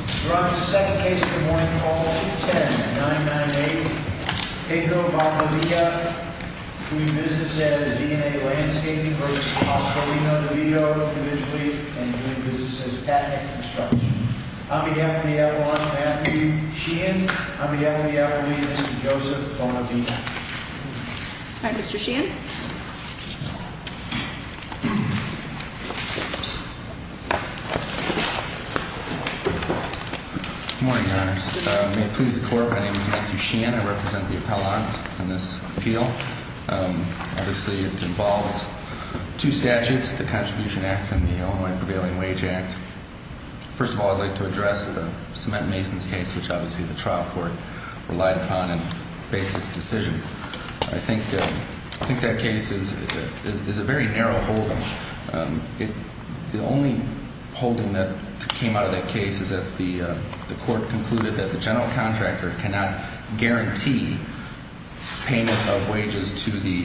We're on to the second case of the morning, call 210-998-TECO-Valdivia. Doing business as V&A Landscaping v. Pascualino-Divito, individually. And doing business as Patent and Construction. On behalf of the Evelyn and Matthew Sheehan, on behalf of the Evelyn and Mr. Joseph Bonavina. All right, Mr. Sheehan. Good morning, Your Honors. May it please the Court, my name is Matthew Sheehan. I represent the appellant in this appeal. Obviously, it involves two statutes, the Contribution Act and the Illinois Prevailing Wage Act. First of all, I'd like to address the cement mason's case, which obviously the trial court relied upon and based its decision. I think that case is a very narrow holding. The only holding that came out of that case is that the court concluded that the general contractor cannot guarantee payment of wages to the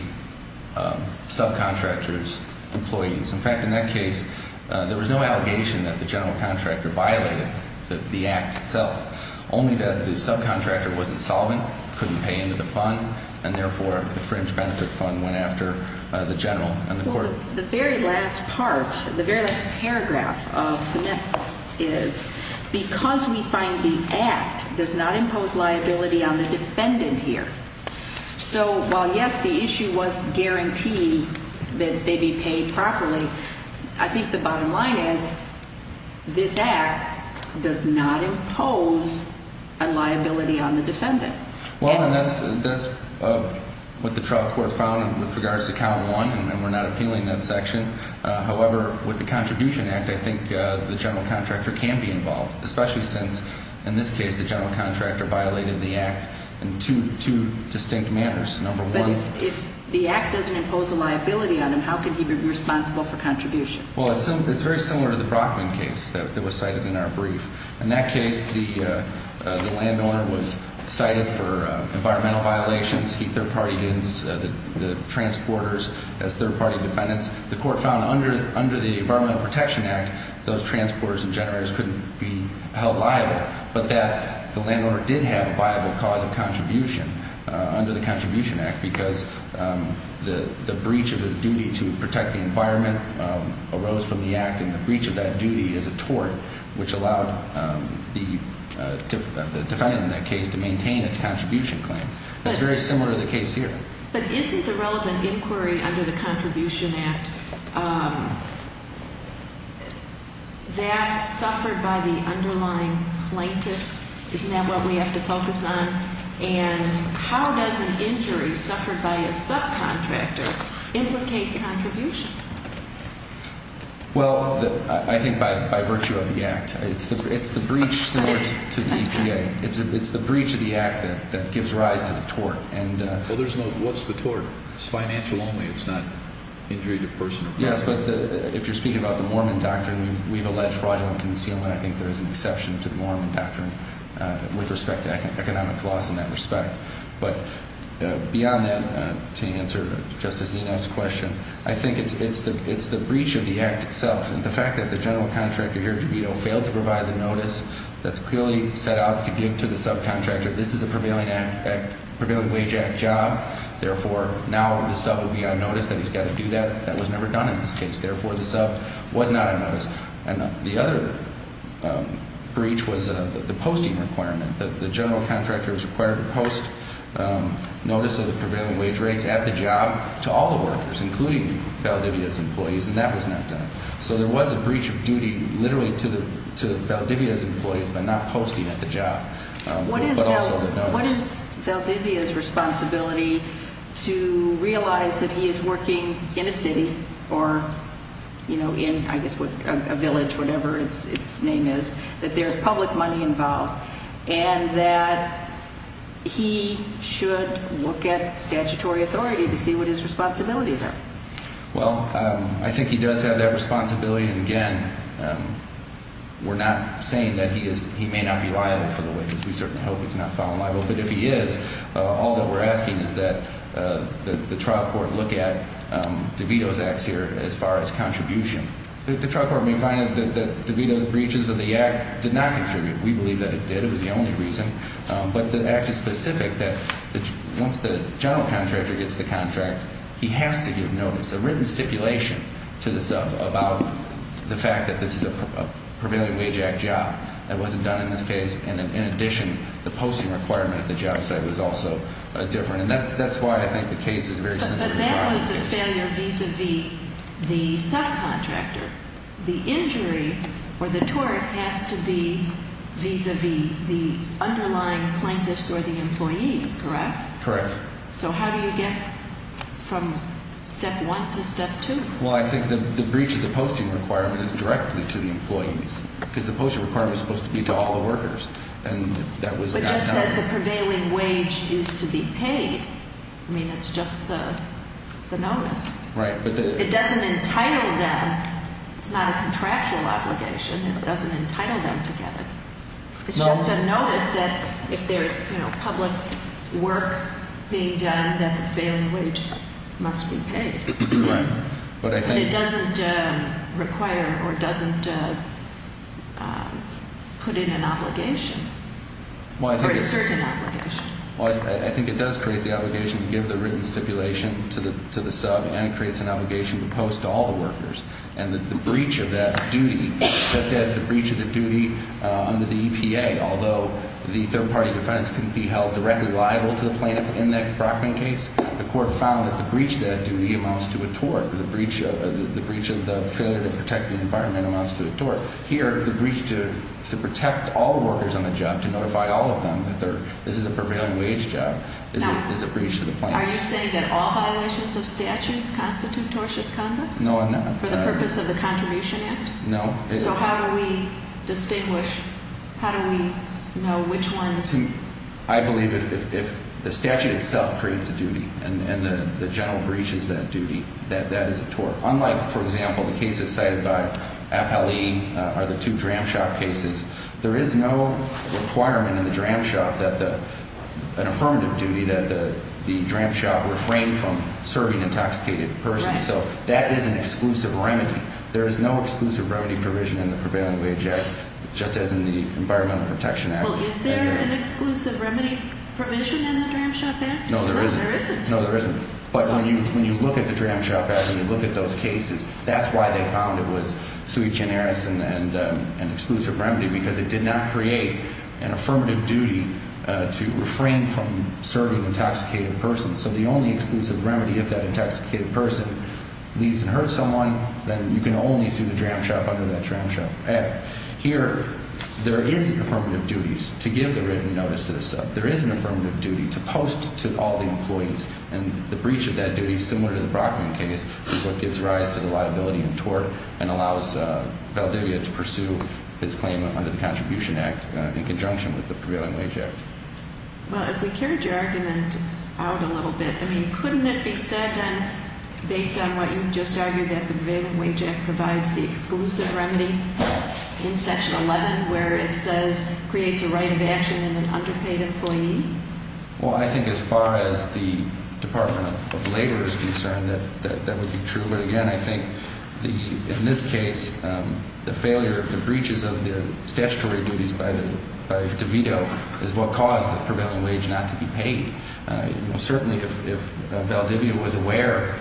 subcontractor's employees. In fact, in that case, there was no allegation that the general contractor violated the act itself. Only that the subcontractor wasn't solvent, couldn't pay into the fund, and therefore the fringe benefit fund went after the general and the court. The very last part, the very last paragraph of cement is because we find the act does not impose liability on the defendant here. So, while yes, the issue was guarantee that they be paid properly, I think the bottom line is this act does not impose a liability on the defendant. Well, and that's what the trial court found with regards to count one, and we're not appealing that section. However, with the Contribution Act, I think the general contractor can be involved, especially since, in this case, the general contractor violated the act in two distinct manners. Number one. But if the act doesn't impose a liability on him, how could he be responsible for contribution? Well, it's very similar to the Brockman case that was cited in our brief. In that case, the landowner was cited for environmental violations. He third-partied the transporters as third-party defendants. The court found under the Environmental Protection Act, those transporters and generators couldn't be held liable, but that the landowner did have a viable cause of contribution under the Contribution Act because the breach of his duty to protect the environment arose from the act, and the breach of that duty is a tort, which allowed the defendant in that case to maintain its contribution claim. It's very similar to the case here. But isn't the relevant inquiry under the Contribution Act that suffered by the underlying plaintiff? Isn't that what we have to focus on? And how does an injury suffered by a subcontractor implicate contribution? Well, I think by virtue of the act. It's the breach similar to the EPA. It's the breach of the act that gives rise to the tort. Well, there's no what's the tort. It's financial only. It's not injury to person or property. Yes, but if you're speaking about the Mormon doctrine, we've alleged fraudulent concealment. I think there is an exception to the Mormon doctrine with respect to economic loss in that respect. But beyond that, to answer Justice Zino's question, I think it's the breach of the act itself. And the fact that the general contractor here, DeVito, failed to provide the notice that's clearly set out to give to the subcontractor, this is a Prevailing Act, Prevailing Wage Act job. Therefore, now the sub would be on notice that he's got to do that. That was never done in this case. Therefore, the sub was not on notice. And the other breach was the posting requirement. The general contractor was required to post notice of the prevailing wage rates at the job to all the workers, including Valdivia's employees, and that was not done. So there was a breach of duty literally to Valdivia's employees by not posting at the job, but also the notice. So what is Valdivia's responsibility to realize that he is working in a city or, you know, in, I guess, a village, whatever its name is, that there is public money involved, and that he should look at statutory authority to see what his responsibilities are? Well, I think he does have that responsibility. William, again, we're not saying that he may not be liable for the witness. We certainly hope he's not found liable. But if he is, all that we're asking is that the trial court look at DeVito's acts here as far as contribution. The trial court may find that DeVito's breaches of the act did not contribute. We believe that it did. It was the only reason. But the act is specific that once the general contractor gets the contract, he has to give notice, a written stipulation to the sub about the fact that this is a prevailing wage act job that wasn't done in this case. And in addition, the posting requirement at the job site was also different. And that's why I think the case is very simple. But that was the failure vis-a-vis the subcontractor. The injury or the tort has to be vis-a-vis the underlying plaintiffs or the employees, correct? Correct. So how do you get from step one to step two? Well, I think the breach of the posting requirement is directly to the employees because the posting requirement is supposed to be to all the workers. And that was not done. But just as the prevailing wage is to be paid, I mean, it's just the notice. Right. It doesn't entitle them. It's not a contractual obligation. It doesn't entitle them to get it. It's just a notice that if there's public work being done, that the failing wage must be paid. Right. But I think it doesn't require or doesn't put in an obligation or a certain obligation. Well, I think it does create the obligation to give the written stipulation to the sub and creates an obligation to post to all the workers. And the breach of that duty, just as the breach of the duty under the EPA, although the third-party defense can be held directly liable to the plaintiff in that Brockman case, the court found that the breach of that duty amounts to a tort. The breach of the failure to protect the environment amounts to a tort. Here, the breach to protect all the workers on the job, to notify all of them that this is a prevailing wage job is a breach to the plaintiff. Are you saying that all violations of statutes constitute tortious conduct? No, I'm not. For the purpose of the Contribution Act? No. So how do we distinguish? How do we know which ones? I believe if the statute itself creates a duty and the general breach is that duty, that that is a tort. Unlike, for example, the cases cited by Appellee or the two Dram Shop cases, there is no requirement in the Dram Shop that an affirmative duty that the Dram Shop refrain from serving intoxicated persons. So that is an exclusive remedy. There is no exclusive remedy provision in the Prevailing Wage Act, just as in the Environmental Protection Act. Well, is there an exclusive remedy provision in the Dram Shop Act? No, there isn't. No, there isn't. No, there isn't. But when you look at the Dram Shop Act and you look at those cases, that's why they found it was sui generis and an exclusive remedy, because it did not create an affirmative duty to refrain from serving intoxicated persons. So the only exclusive remedy, if that intoxicated person leaves and hurts someone, then you can only sue the Dram Shop under that Dram Shop Act. Here, there is an affirmative duty to give the written notice to the sub. There is an affirmative duty to post to all the employees. And the breach of that duty, similar to the Brockman case, is what gives rise to the liability in tort and allows Valedivia to pursue its claim under the Contribution Act in conjunction with the Prevailing Wage Act. Well, if we carried your argument out a little bit, I mean, couldn't it be said then, based on what you just argued, that the Prevailing Wage Act provides the exclusive remedy in Section 11 where it says creates a right of action in an underpaid employee? Well, I think as far as the Department of Labor is concerned, that would be true. But again, I think in this case, the failure, the breaches of the statutory duties by DeVito is what caused the Prevailing Wage not to be paid. Certainly, if Valedivia was aware,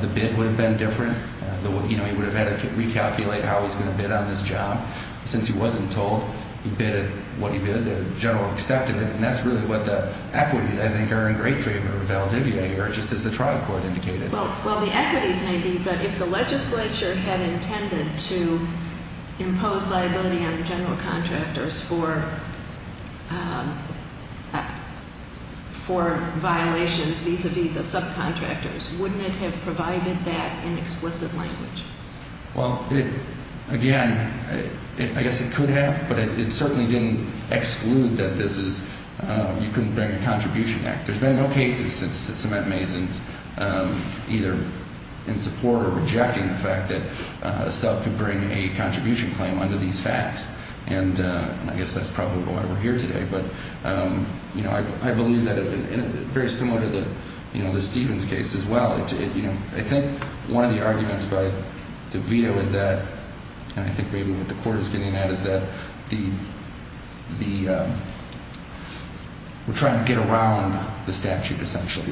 the bid would have been different. He would have had to recalculate how he was going to bid on this job. Since he wasn't told he bid what he bid, the general accepted it. And that's really what the equities, I think, are in great favor of Valedivia here, just as the trial court indicated. Well, the equities may be, but if the legislature had intended to impose liability on general contractors for violations vis-a-vis the subcontractors, wouldn't it have provided that in explicit language? Well, again, I guess it could have, but it certainly didn't exclude that this is you couldn't bring a contribution act. There's been no cases since the cement masons either in support or rejecting the fact that a sub could bring a contribution claim under these facts. And I guess that's probably why we're here today. But, you know, I believe that it's very similar to the Stevens case as well. I think one of the arguments by DeVito is that, and I think maybe what the court is getting at, is that we're trying to get around the statute, essentially.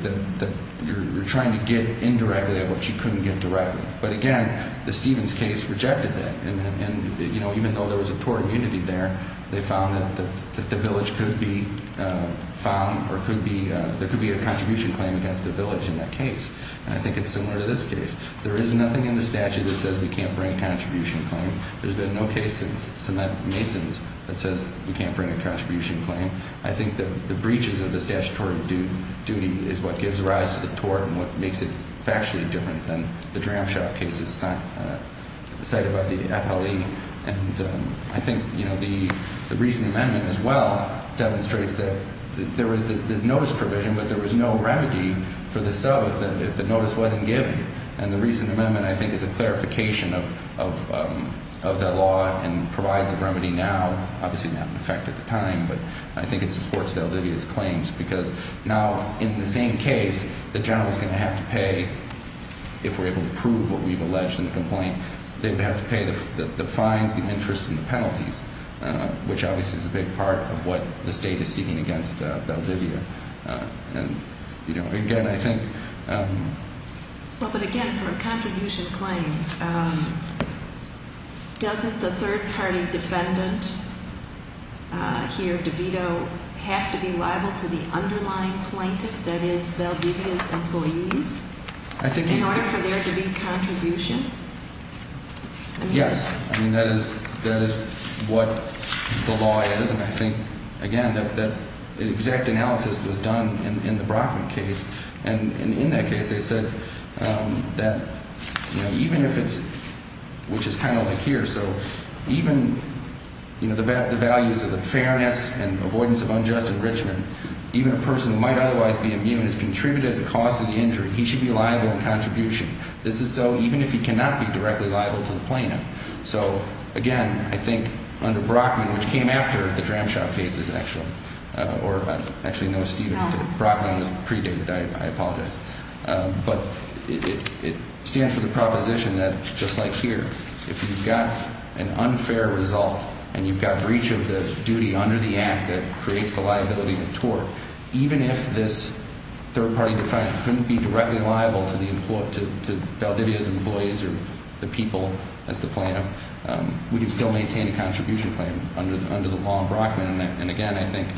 You're trying to get indirectly at what you couldn't get directly. But, again, the Stevens case rejected that. And even though there was a tort immunity there, they found that the village could be found or there could be a contribution claim against the village in that case. And I think it's similar to this case. There is nothing in the statute that says we can't bring a contribution claim. There's been no case since cement masons that says we can't bring a contribution claim. I think that the breaches of the statutory duty is what gives rise to the tort and what makes it factually different than the Dram Shop cases cited by the FLE. And I think, you know, the recent amendment as well demonstrates that there was the notice provision, but there was no remedy for the sub if the notice wasn't given. And the recent amendment, I think, is a clarification of that law and provides a remedy now. Obviously not in effect at the time, but I think it supports Valdivia's claims because now in the same case, the general is going to have to pay, if we're able to prove what we've alleged in the complaint, they would have to pay the fines, the interest, and the penalties, which obviously is a big part of what the state is seeking against Valdivia. And, you know, again, I think... In order for there to be contribution? Yes. I mean, that is what the law is, and I think, again, that exact analysis was done in the Brockman case. And in that case, they said that, you know, even if it's – which is kind of like here. So even, you know, the values of the fairness and avoidance of unjust enrichment, even a person who might otherwise be immune is contributed as a cause of the injury. He should be liable in contribution. This is so even if he cannot be directly liable to the plaintiff. So, again, I think under Brockman, which came after the Dramshaw case is actually – or actually no, Stevens did it. Brockman was predated. I apologize. But it stands for the proposition that, just like here, if you've got an unfair result and you've got breach of the duty under the act that creates the liability of tort, even if this third-party defendant couldn't be directly liable to Valdivia's employees or the people as the plaintiff, we can still maintain a contribution claim under the law in Brockman. And, again, I think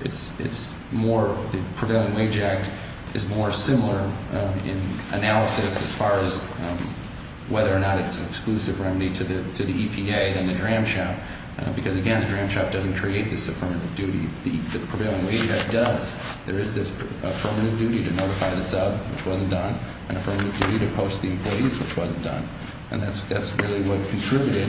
it's more – the Prevailing Wage Act is more similar in analysis as far as whether or not it's an exclusive remedy to the EPA than the Dramshaw. Because, again, the Dramshaw doesn't create this affirmative duty. The Prevailing Wage Act does. There is this affirmative duty to notify the sub, which wasn't done, and affirmative duty to post the employees, which wasn't done. And that's really what contributed,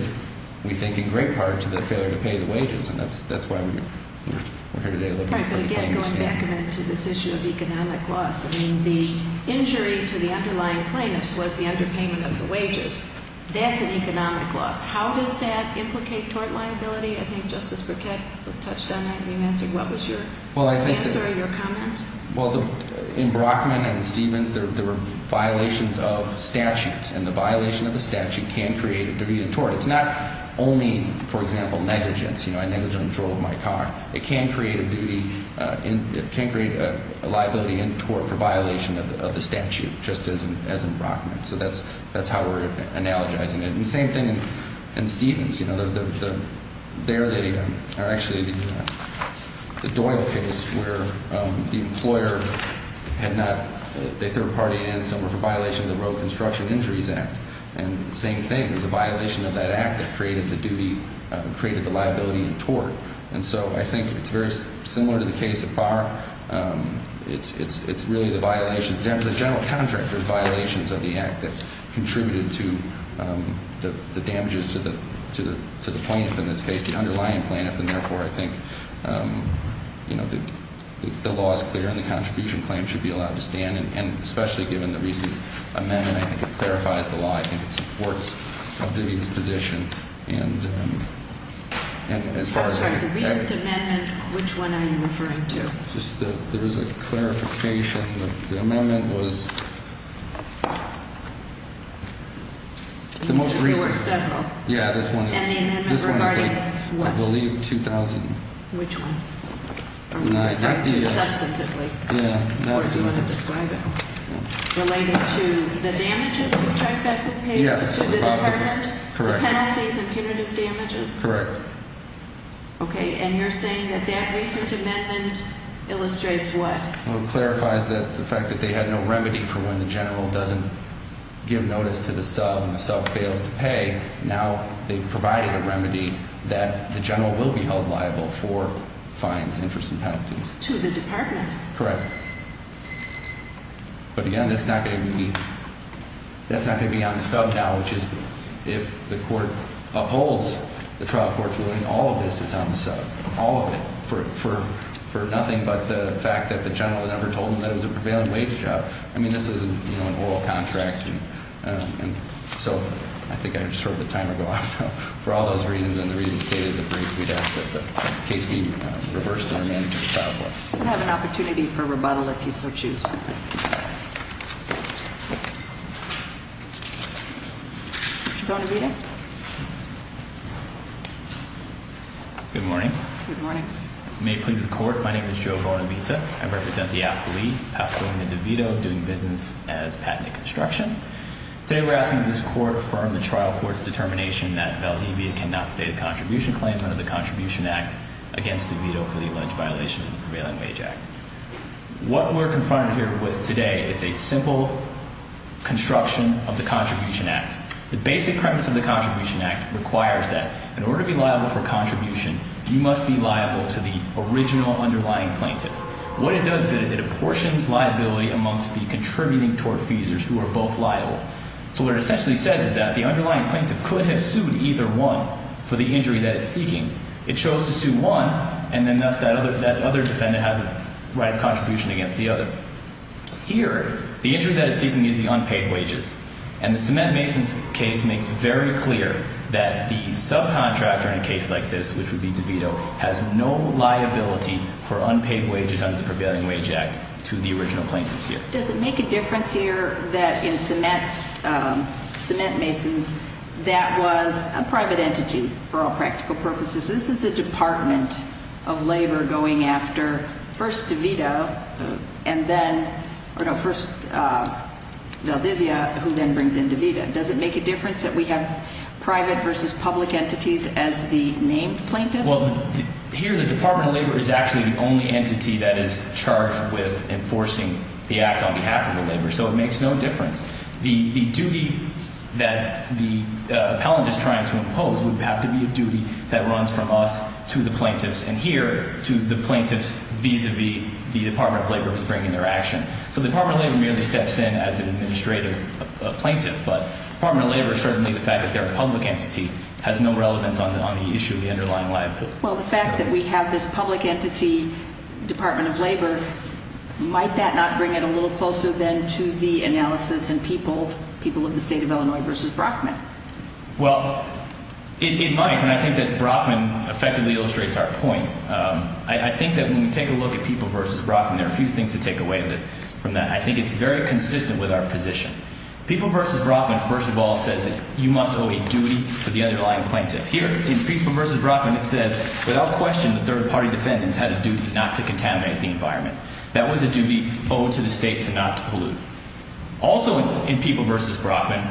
we think, in great part to the failure to pay the wages. And that's why we're here today looking for the claim to stand. All right. But, again, going back a minute to this issue of economic loss, I mean, the injury to the underlying plaintiffs was the underpayment of the wages. That's an economic loss. How does that implicate tort liability? I think Justice Burkett touched on that, and you answered. What was your answer or your comment? Well, in Brockman and Stevens, there were violations of statutes. And the violation of the statute can create a division of tort. It's not only, for example, negligence. You know, I negligently drove my car. It can create a liability in tort for violation of the statute, just as in Brockman. So that's how we're analogizing it. And the same thing in Stevens. You know, there they are actually the Doyle case where the employer had not – they third-partied in somewhere for violation of the Road Construction Injuries Act. And the same thing is a violation of that act that created the duty – created the liability in tort. And so I think it's very similar to the case of Barr. It's really the violations – there was a general contractor's violations of the act that contributed to the damages to the plaintiff in this case, the underlying plaintiff. And, therefore, I think, you know, the law is clear and the contribution claim should be allowed to stand. And especially given the recent amendment, I think it clarifies the law. I think it supports a division's position. And as far as – I'm sorry. The recent amendment, which one are you referring to? Just the – there was a clarification. The amendment was the most recent. There were several. Yeah, this one is – And the amendment regarding what? This one is, I believe, 2000. Which one? Are we referring to it substantively? Yeah. Or do you want to describe it? Related to the damages? Yes. To the department? Correct. The penalties and punitive damages? Correct. Okay. And you're saying that that recent amendment illustrates what? Well, it clarifies the fact that they had no remedy for when the general doesn't give notice to the sub and the sub fails to pay. Now they've provided a remedy that the general will be held liable for fines, interest, and penalties. To the department? Correct. But, again, that's not going to be on the sub now, which is if the court upholds the trial court's ruling, all of this is on the sub. All of it. For nothing but the fact that the general never told them that it was a prevailing wage job. I mean, this is an oral contract. And so I think I just heard the timer go off. So for all those reasons and the reasons stated in the brief, we'd ask that the case be reversed and remanded to the trial court. You can have an opportunity for rebuttal if you so choose. Mr. Bonavita? Good morning. Good morning. May it please the court, my name is Joe Bonavita. I represent the appellee, Pasolina DeVito, doing business as Patent and Construction. Today we're asking that this court affirm the trial court's determination that Valdivia cannot state a contribution claim under the Contribution Act against DeVito for the alleged violation of the Prevailing Wage Act. What we're confronted here with today is a simple construction of the Contribution Act. The basic premise of the Contribution Act requires that in order to be liable for contribution, you must be liable to the original underlying plaintiff. What it does is it apportions liability amongst the contributing tortfeasors who are both liable. So what it essentially says is that the underlying plaintiff could have sued either one for the injury that it's seeking. It chose to sue one, and then thus that other defendant has a right of contribution against the other. Here, the injury that it's seeking is the unpaid wages. And the Cement Masons case makes very clear that the subcontractor in a case like this, which would be DeVito, has no liability for unpaid wages under the Prevailing Wage Act to the original plaintiff's year. Does it make a difference here that in Cement Masons that was a private entity for all practical purposes? This is the Department of Labor going after first DeVito and then – or no, first Valdivia, who then brings in DeVito. Does it make a difference that we have private versus public entities as the named plaintiffs? Well, here the Department of Labor is actually the only entity that is charged with enforcing the act on behalf of the laborer, so it makes no difference. The duty that the appellant is trying to impose would have to be a duty that runs from us to the plaintiffs, and here to the plaintiffs vis-a-vis the Department of Labor who's bringing their action. So the Department of Labor merely steps in as an administrative plaintiff, but the Department of Labor, certainly the fact that they're a public entity, has no relevance on the issue of the underlying liability. Well, the fact that we have this public entity Department of Labor, might that not bring it a little closer then to the analysis in people, people of the state of Illinois versus Brockman? Well, it might, and I think that Brockman effectively illustrates our point. I think that when we take a look at people versus Brockman, there are a few things to take away from that. I think it's very consistent with our position. People versus Brockman, first of all, says that you must owe a duty to the underlying plaintiff. Here, in people versus Brockman, it says, without question, the third-party defendants had a duty not to contaminate the environment. That was a duty owed to the state to not to pollute. Also, in people versus Brockman,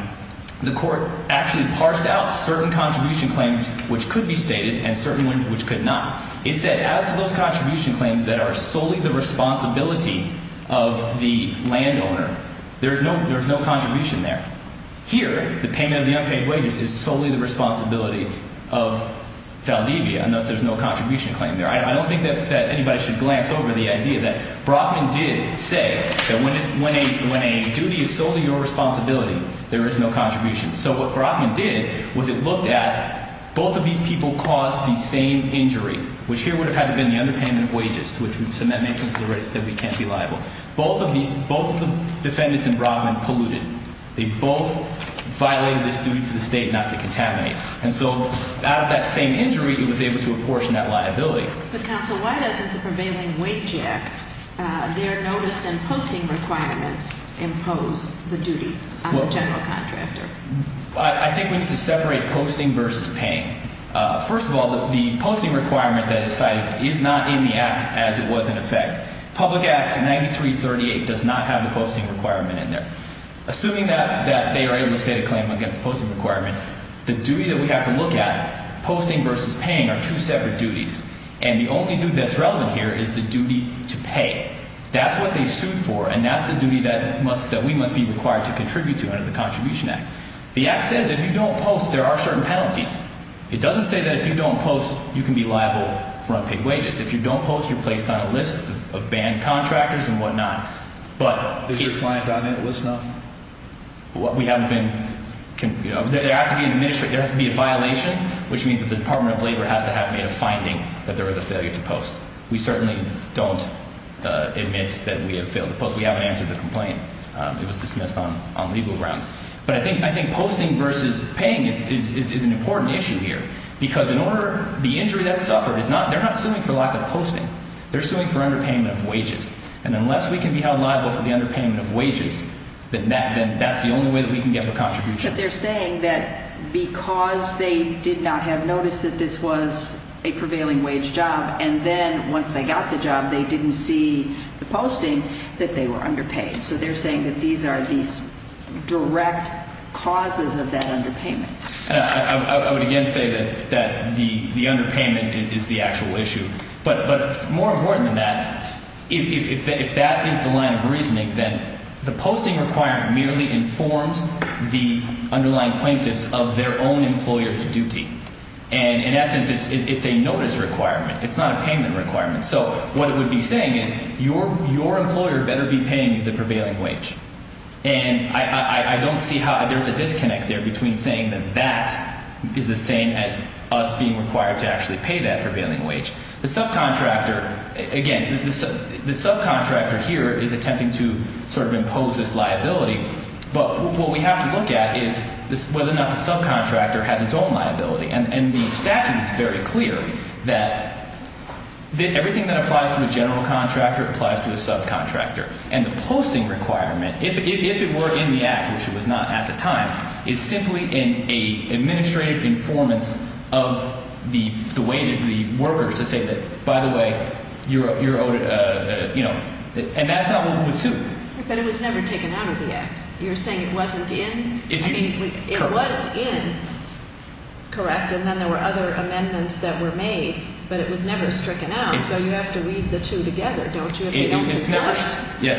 the court actually parsed out certain contribution claims which could be stated and certain ones which could not. It said, as to those contribution claims that are solely the responsibility of the landowner, there's no contribution there. Here, the payment of the unpaid wages is solely the responsibility of Valdivia, and thus there's no contribution claim there. I don't think that anybody should glance over the idea that Brockman did say that when a duty is solely your responsibility, there is no contribution. So what Brockman did was it looked at both of these people caused the same injury, which here would have had to have been the underpayment of wages, which would have meant that we can't be liable. Both of these – both of the defendants in Brockman polluted. They both violated this duty to the state not to contaminate. And so out of that same injury, he was able to apportion that liability. But, counsel, why doesn't the prevailing wage act, their notice and posting requirements impose the duty on the general contractor? I think we need to separate posting versus paying. First of all, the posting requirement that is cited is not in the act as it was in effect. Public Act 9338 does not have the posting requirement in there. Assuming that they are able to state a claim against the posting requirement, the duty that we have to look at, posting versus paying, are two separate duties. And the only duty that's relevant here is the duty to pay. That's what they sued for, and that's the duty that we must be required to contribute to under the Contribution Act. The act says if you don't post, there are certain penalties. It doesn't say that if you don't post, you can be liable for unpaid wages. If you don't post, you're placed on a list of banned contractors and whatnot. Is your client on that list now? We haven't been. There has to be a violation, which means that the Department of Labor has to have made a finding that there was a failure to post. We certainly don't admit that we have failed to post. We haven't answered the complaint. It was dismissed on legal grounds. But I think posting versus paying is an important issue here because in order – the injury that suffered is not – they're not suing for lack of posting. They're suing for underpayment of wages. And unless we can be held liable for the underpayment of wages, then that's the only way that we can get the contribution. But they're saying that because they did not have notice that this was a prevailing wage job, and then once they got the job, they didn't see the posting, that they were underpaid. So they're saying that these are these direct causes of that underpayment. I would again say that the underpayment is the actual issue. But more important than that, if that is the line of reasoning, then the posting requirement merely informs the underlying plaintiffs of their own employer's duty. And in essence, it's a notice requirement. It's not a payment requirement. So what it would be saying is your employer better be paying the prevailing wage. And I don't see how there's a disconnect there between saying that that is the same as us being required to actually pay that prevailing wage. The subcontractor – again, the subcontractor here is attempting to sort of impose this liability. But what we have to look at is whether or not the subcontractor has its own liability. And the statute is very clear that everything that applies to a general contractor applies to a subcontractor. And the posting requirement, if it were in the act, which it was not at the time, is simply an administrative informants of the way that the worker is to say that, by the way, you're owed a – and that's not what was sued. But it was never taken out of the act. You're saying it wasn't in? I mean it was in, correct, and then there were other amendments that were made, but it was never stricken out. So you have to read the two together, don't you? Yes,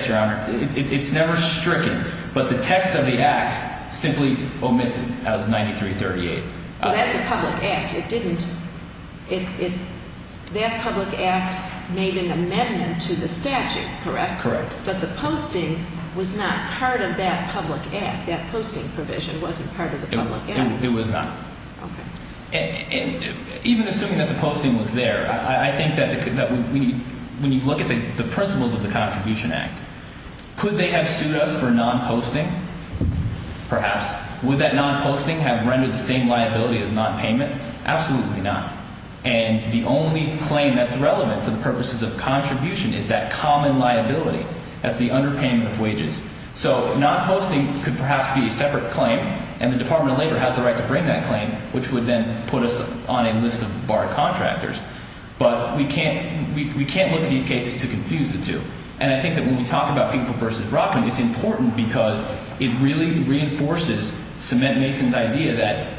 Your Honor. It's never stricken, but the text of the act simply omits it out of 9338. Well, that's a public act. It didn't – that public act made an amendment to the statute, correct? Correct. But the posting was not part of that public act. That posting provision wasn't part of the public act. It was not. Okay. Even assuming that the posting was there, I think that when you look at the principles of the Contribution Act, could they have sued us for non-posting? Perhaps. Would that non-posting have rendered the same liability as non-payment? Absolutely not. And the only claim that's relevant for the purposes of contribution is that common liability. That's the underpayment of wages. So non-posting could perhaps be a separate claim, and the Department of Labor has the right to bring that claim, which would then put us on a list of barred contractors. But we can't look at these cases to confuse the two. And I think that when we talk about people versus Brockman, it's important because it really reinforces Cement Mason's idea that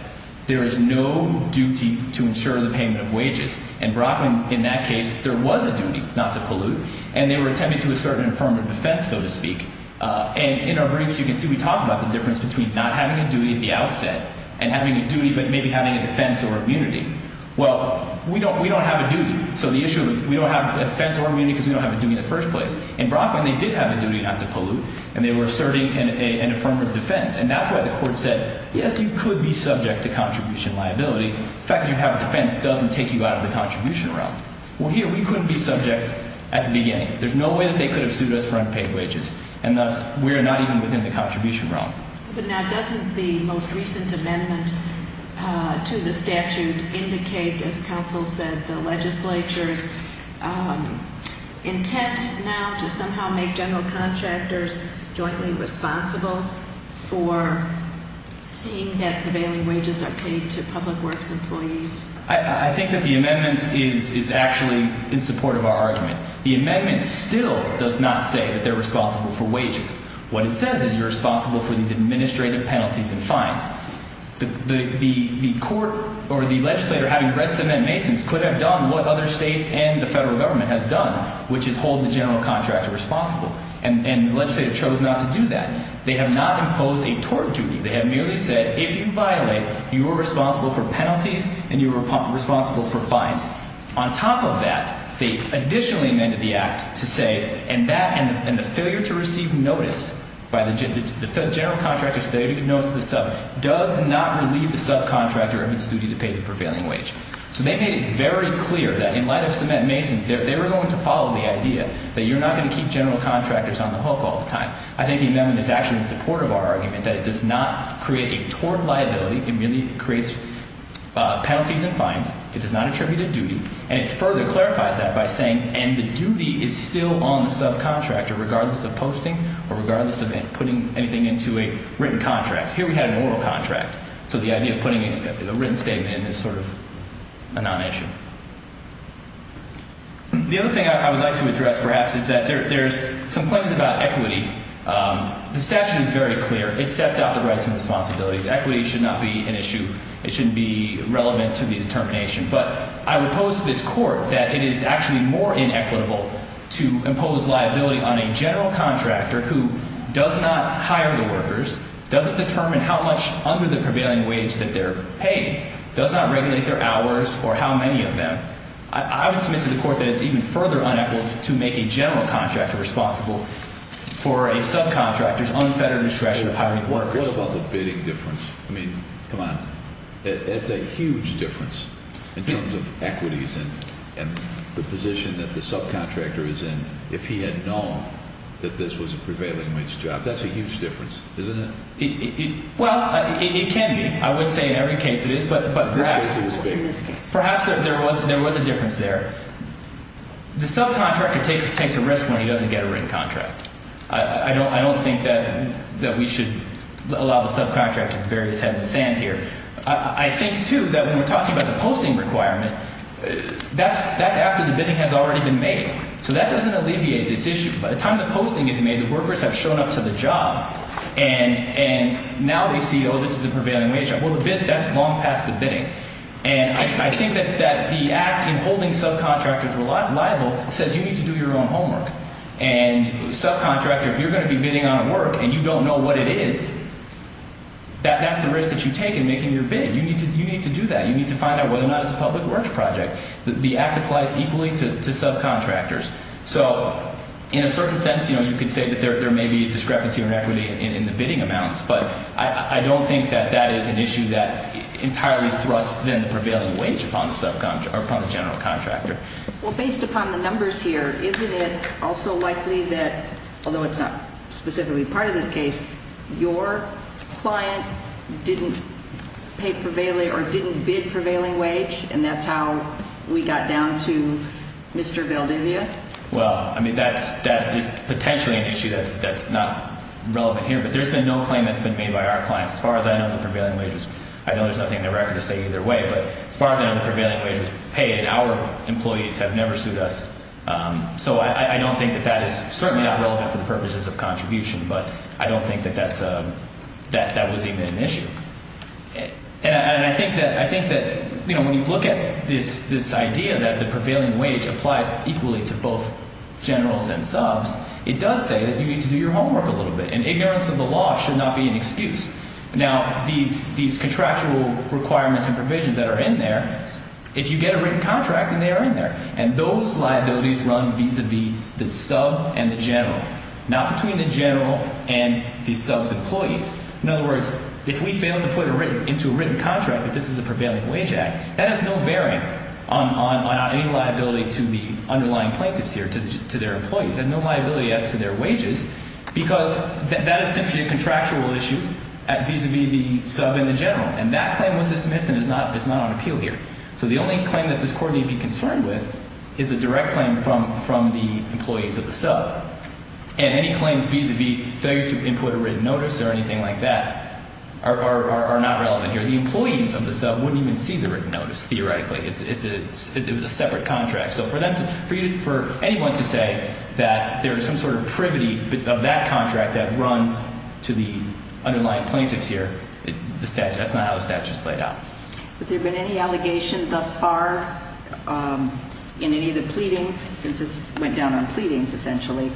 there is no duty to ensure the payment of wages. And Brockman, in that case, there was a duty not to pollute, and they were attempting to assert an affirmative defense, so to speak. And in our briefs, you can see we talk about the difference between not having a duty at the outset and having a duty but maybe having a defense or immunity. Well, we don't have a duty, so the issue is we don't have a defense or immunity because we don't have a duty in the first place. In Brockman, they did have a duty not to pollute, and they were asserting an affirmative defense. And that's why the court said, yes, you could be subject to contribution liability. The fact that you have a defense doesn't take you out of the contribution realm. Well, here, we couldn't be subject at the beginning. There's no way that they could have sued us for unpaid wages, and thus we're not even within the contribution realm. But now doesn't the most recent amendment to the statute indicate, as counsel said, the legislature's intent now to somehow make general contractors jointly responsible for seeing that prevailing wages are paid to public works employees? I think that the amendment is actually in support of our argument. The amendment still does not say that they're responsible for wages. What it says is you're responsible for these administrative penalties and fines. The court or the legislator having read Sedmont-Masons could have done what other states and the federal government has done, which is hold the general contractor responsible. And the legislator chose not to do that. They have not imposed a tort duty. They have merely said, if you violate, you are responsible for penalties and you are responsible for fines. On top of that, they additionally amended the act to say, and the failure to receive notice by the general contractor's failure to give notice to the sub does not relieve the subcontractor of its duty to pay the prevailing wage. So they made it very clear that in light of Sedmont-Masons, they were going to follow the idea that you're not going to keep general contractors on the hook all the time. I think the amendment is actually in support of our argument that it does not create a tort liability. It merely creates penalties and fines. It does not attribute a duty. And it further clarifies that by saying, and the duty is still on the subcontractor regardless of posting or regardless of putting anything into a written contract. Here we had an oral contract. So the idea of putting a written statement in is sort of a non-issue. The other thing I would like to address perhaps is that there's some claims about equity. The statute is very clear. It sets out the rights and responsibilities. Equity should not be an issue. It shouldn't be relevant to the determination. But I would pose to this court that it is actually more inequitable to impose liability on a general contractor who does not hire the workers, doesn't determine how much under the prevailing wage that they're paid, does not regulate their hours or how many of them. I would submit to the court that it's even further unequaled to make a general contractor responsible for a subcontractor's unfettered discretion of hiring workers. What about the bidding difference? I mean, come on. It's a huge difference in terms of equities and the position that the subcontractor is in if he had known that this was a prevailing wage job. That's a huge difference, isn't it? Well, it can be. I wouldn't say in every case it is, but perhaps there was a difference there. The subcontractor takes a risk when he doesn't get a written contract. I don't think that we should allow the subcontractor to bury his head in the sand here. I think, too, that when we're talking about the posting requirement, that's after the bidding has already been made. So that doesn't alleviate this issue. By the time the posting is made, the workers have shown up to the job, and now they see, oh, this is a prevailing wage job. Well, that's long past the bidding. And I think that the act in holding subcontractors liable says you need to do your own homework. And subcontractor, if you're going to be bidding on a work and you don't know what it is, that's the risk that you take in making your bid. You need to do that. You need to find out whether or not it's a public works project. The act applies equally to subcontractors. So in a certain sense, you could say that there may be a discrepancy or inequity in the bidding amounts, but I don't think that that is an issue that entirely thrusts the prevailing wage upon the general contractor. Well, based upon the numbers here, isn't it also likely that, although it's not specifically part of this case, your client didn't pay prevailing or didn't bid prevailing wage, and that's how we got down to Mr. Valdivia? Well, I mean, that is potentially an issue that's not relevant here, but there's been no claim that's been made by our clients. As far as I know, the prevailing wage was – I know there's nothing in the record to say either way, but as far as I know, the prevailing wage was paid, and our employees have never sued us. So I don't think that that is certainly not relevant for the purposes of contribution, but I don't think that that was even an issue. And I think that when you look at this idea that the prevailing wage applies equally to both generals and subs, it does say that you need to do your homework a little bit, and ignorance of the law should not be an excuse. Now, these contractual requirements and provisions that are in there, if you get a written contract, then they are in there. And those liabilities run vis-à-vis the sub and the general, not between the general and the sub's employees. In other words, if we fail to put into a written contract that this is a prevailing wage act, that has no bearing on any liability to the underlying plaintiffs here, to their employees. They have no liability as to their wages because that is simply a contractual issue vis-à-vis the sub and the general. And that claim was dismissed and is not on appeal here. So the only claim that this court need be concerned with is a direct claim from the employees of the sub. And any claims vis-à-vis failure to input a written notice or anything like that are not relevant here. The employees of the sub wouldn't even see the written notice theoretically. It's a separate contract. So for anyone to say that there is some sort of privity of that contract that runs to the underlying plaintiffs here, that's not how the statute is laid out. Has there been any allegation thus far in any of the pleadings, since this went down on pleadings essentially,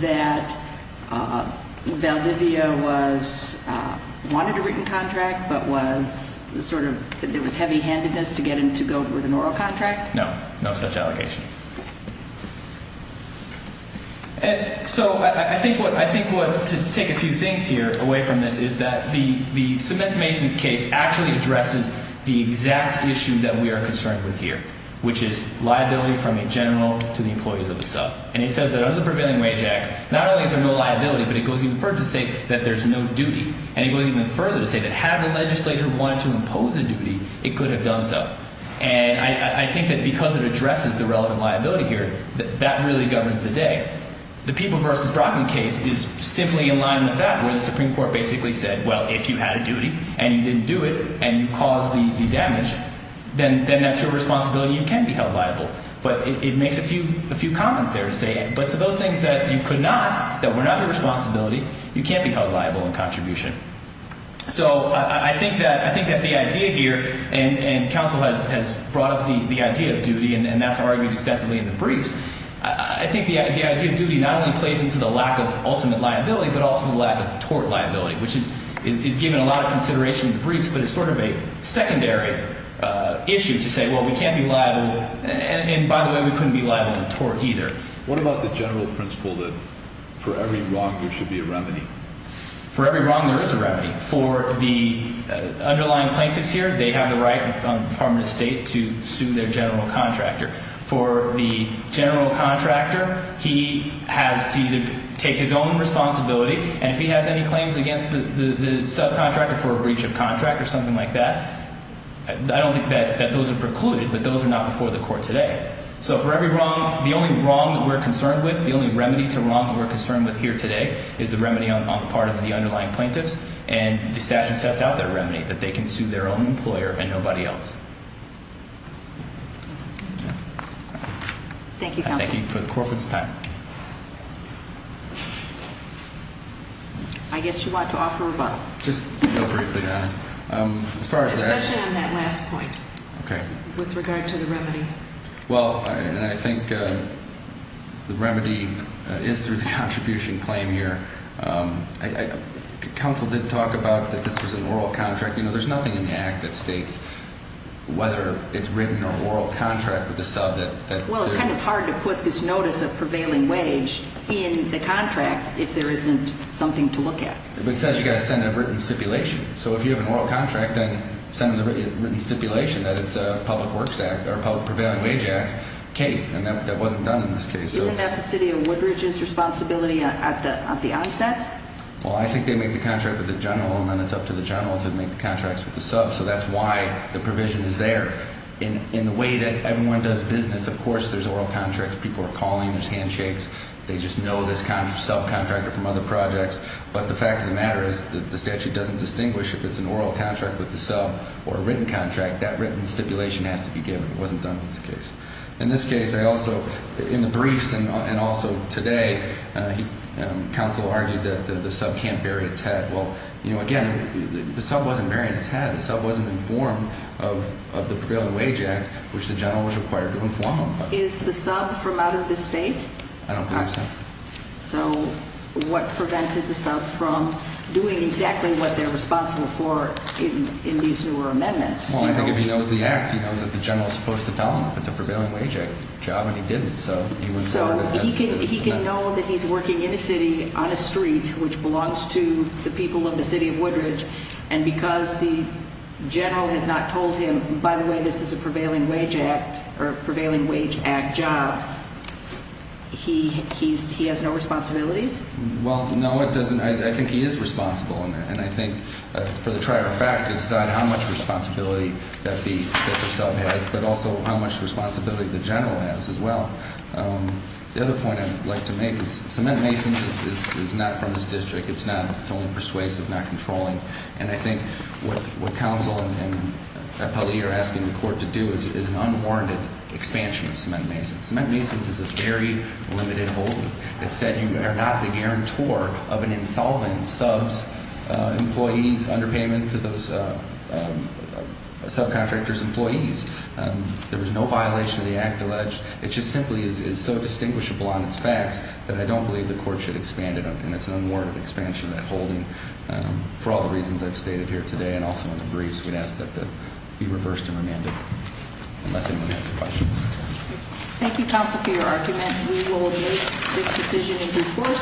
that Valdivia wanted a written contract but there was heavy-handedness to get him to go with an oral contract? No, no such allegation. So I think to take a few things here away from this is that the cement mason's case actually addresses the exact issue that we are concerned with here, which is liability from a general to the employees of a sub. And it says that under the Prevailing Wage Act, not only is there no liability, but it goes even further to say that there's no duty. And it goes even further to say that had the legislature wanted to impose a duty, it could have done so. And I think that because it addresses the relevant liability here, that that really governs the day. The People v. Brockman case is simply in line with that, where the Supreme Court basically said, well, if you had a duty and you didn't do it and you caused the damage, then that's your responsibility and you can be held liable. But it makes a few comments there to say, but to those things that you could not, that were not your responsibility, you can't be held liable in contribution. So I think that the idea here, and counsel has brought up the idea of duty, and that's argued excessively in the briefs. I think the idea of duty not only plays into the lack of ultimate liability, but also the lack of tort liability, which is given a lot of consideration in the briefs. But it's sort of a secondary issue to say, well, we can't be liable. And by the way, we couldn't be liable in tort either. What about the general principle that for every wrong, there should be a remedy? For every wrong, there is a remedy. For the underlying plaintiffs here, they have the right on permanent estate to sue their general contractor. For the general contractor, he has to either take his own responsibility, and if he has any claims against the subcontractor for a breach of contract or something like that, I don't think that those are precluded, but those are not before the court today. So for every wrong, the only wrong that we're concerned with, the only remedy to wrong that we're concerned with here today, is the remedy on the part of the underlying plaintiffs, and the statute sets out their remedy, that they can sue their own employer and nobody else. Thank you, counsel. And thank you for the corporate's time. I guess you want to offer a vote. Just real briefly, Your Honor. Okay. With regard to the remedy. Well, and I think the remedy is through the contribution claim here. Counsel did talk about that this was an oral contract. You know, there's nothing in the act that states whether it's written or oral contract with the sub that they're... Well, it's kind of hard to put this notice of prevailing wage in the contract if there isn't something to look at. But it says you've got to send a written stipulation. So if you have an oral contract, then send a written stipulation that it's a public works act or public prevailing wage act case. And that wasn't done in this case. Isn't that the city of Woodridge's responsibility at the onset? Well, I think they make the contract with the general, and then it's up to the general to make the contracts with the sub. So that's why the provision is there. In the way that everyone does business, of course, there's oral contracts. People are calling. There's handshakes. They just know this subcontractor from other projects. But the fact of the matter is that the statute doesn't distinguish if it's an oral contract with the sub or a written contract. That written stipulation has to be given. It wasn't done in this case. In this case, I also, in the briefs and also today, counsel argued that the sub can't bury its head. Well, you know, again, the sub wasn't burying its head. The sub wasn't informed of the prevailing wage act, which the general was required to inform him of. Is the sub from out of this state? I don't believe so. So what prevented the sub from doing exactly what they're responsible for in these newer amendments? Well, I think if he knows the act, he knows that the general is supposed to tell him if it's a prevailing wage act job, and he didn't. So he can know that he's working in a city on a street which belongs to the people of the city of Woodridge, and because the general has not told him, by the way, this is a prevailing wage act job, he has no responsibilities? Well, no, I think he is responsible, and I think for the trier of fact to decide how much responsibility that the sub has, but also how much responsibility the general has as well. The other point I'd like to make is cement masons is not from this district. It's not. It's only persuasive, not controlling, and I think what counsel and appellee are asking the court to do is an unwarranted expansion of cement masons. Cement masons is a very limited holding. It said you are not the guarantor of an insolvent sub's employee's underpayment to those subcontractors' employees. There was no violation of the act alleged. It just simply is so distinguishable on its facts that I don't believe the court should expand it, and it's an unwarranted expansion of that holding for all the reasons I've stated here today and also in the briefs. We'd ask that it be reversed and remanded unless anyone has questions. Thank you, counsel, for your argument. We will make this decision in due course.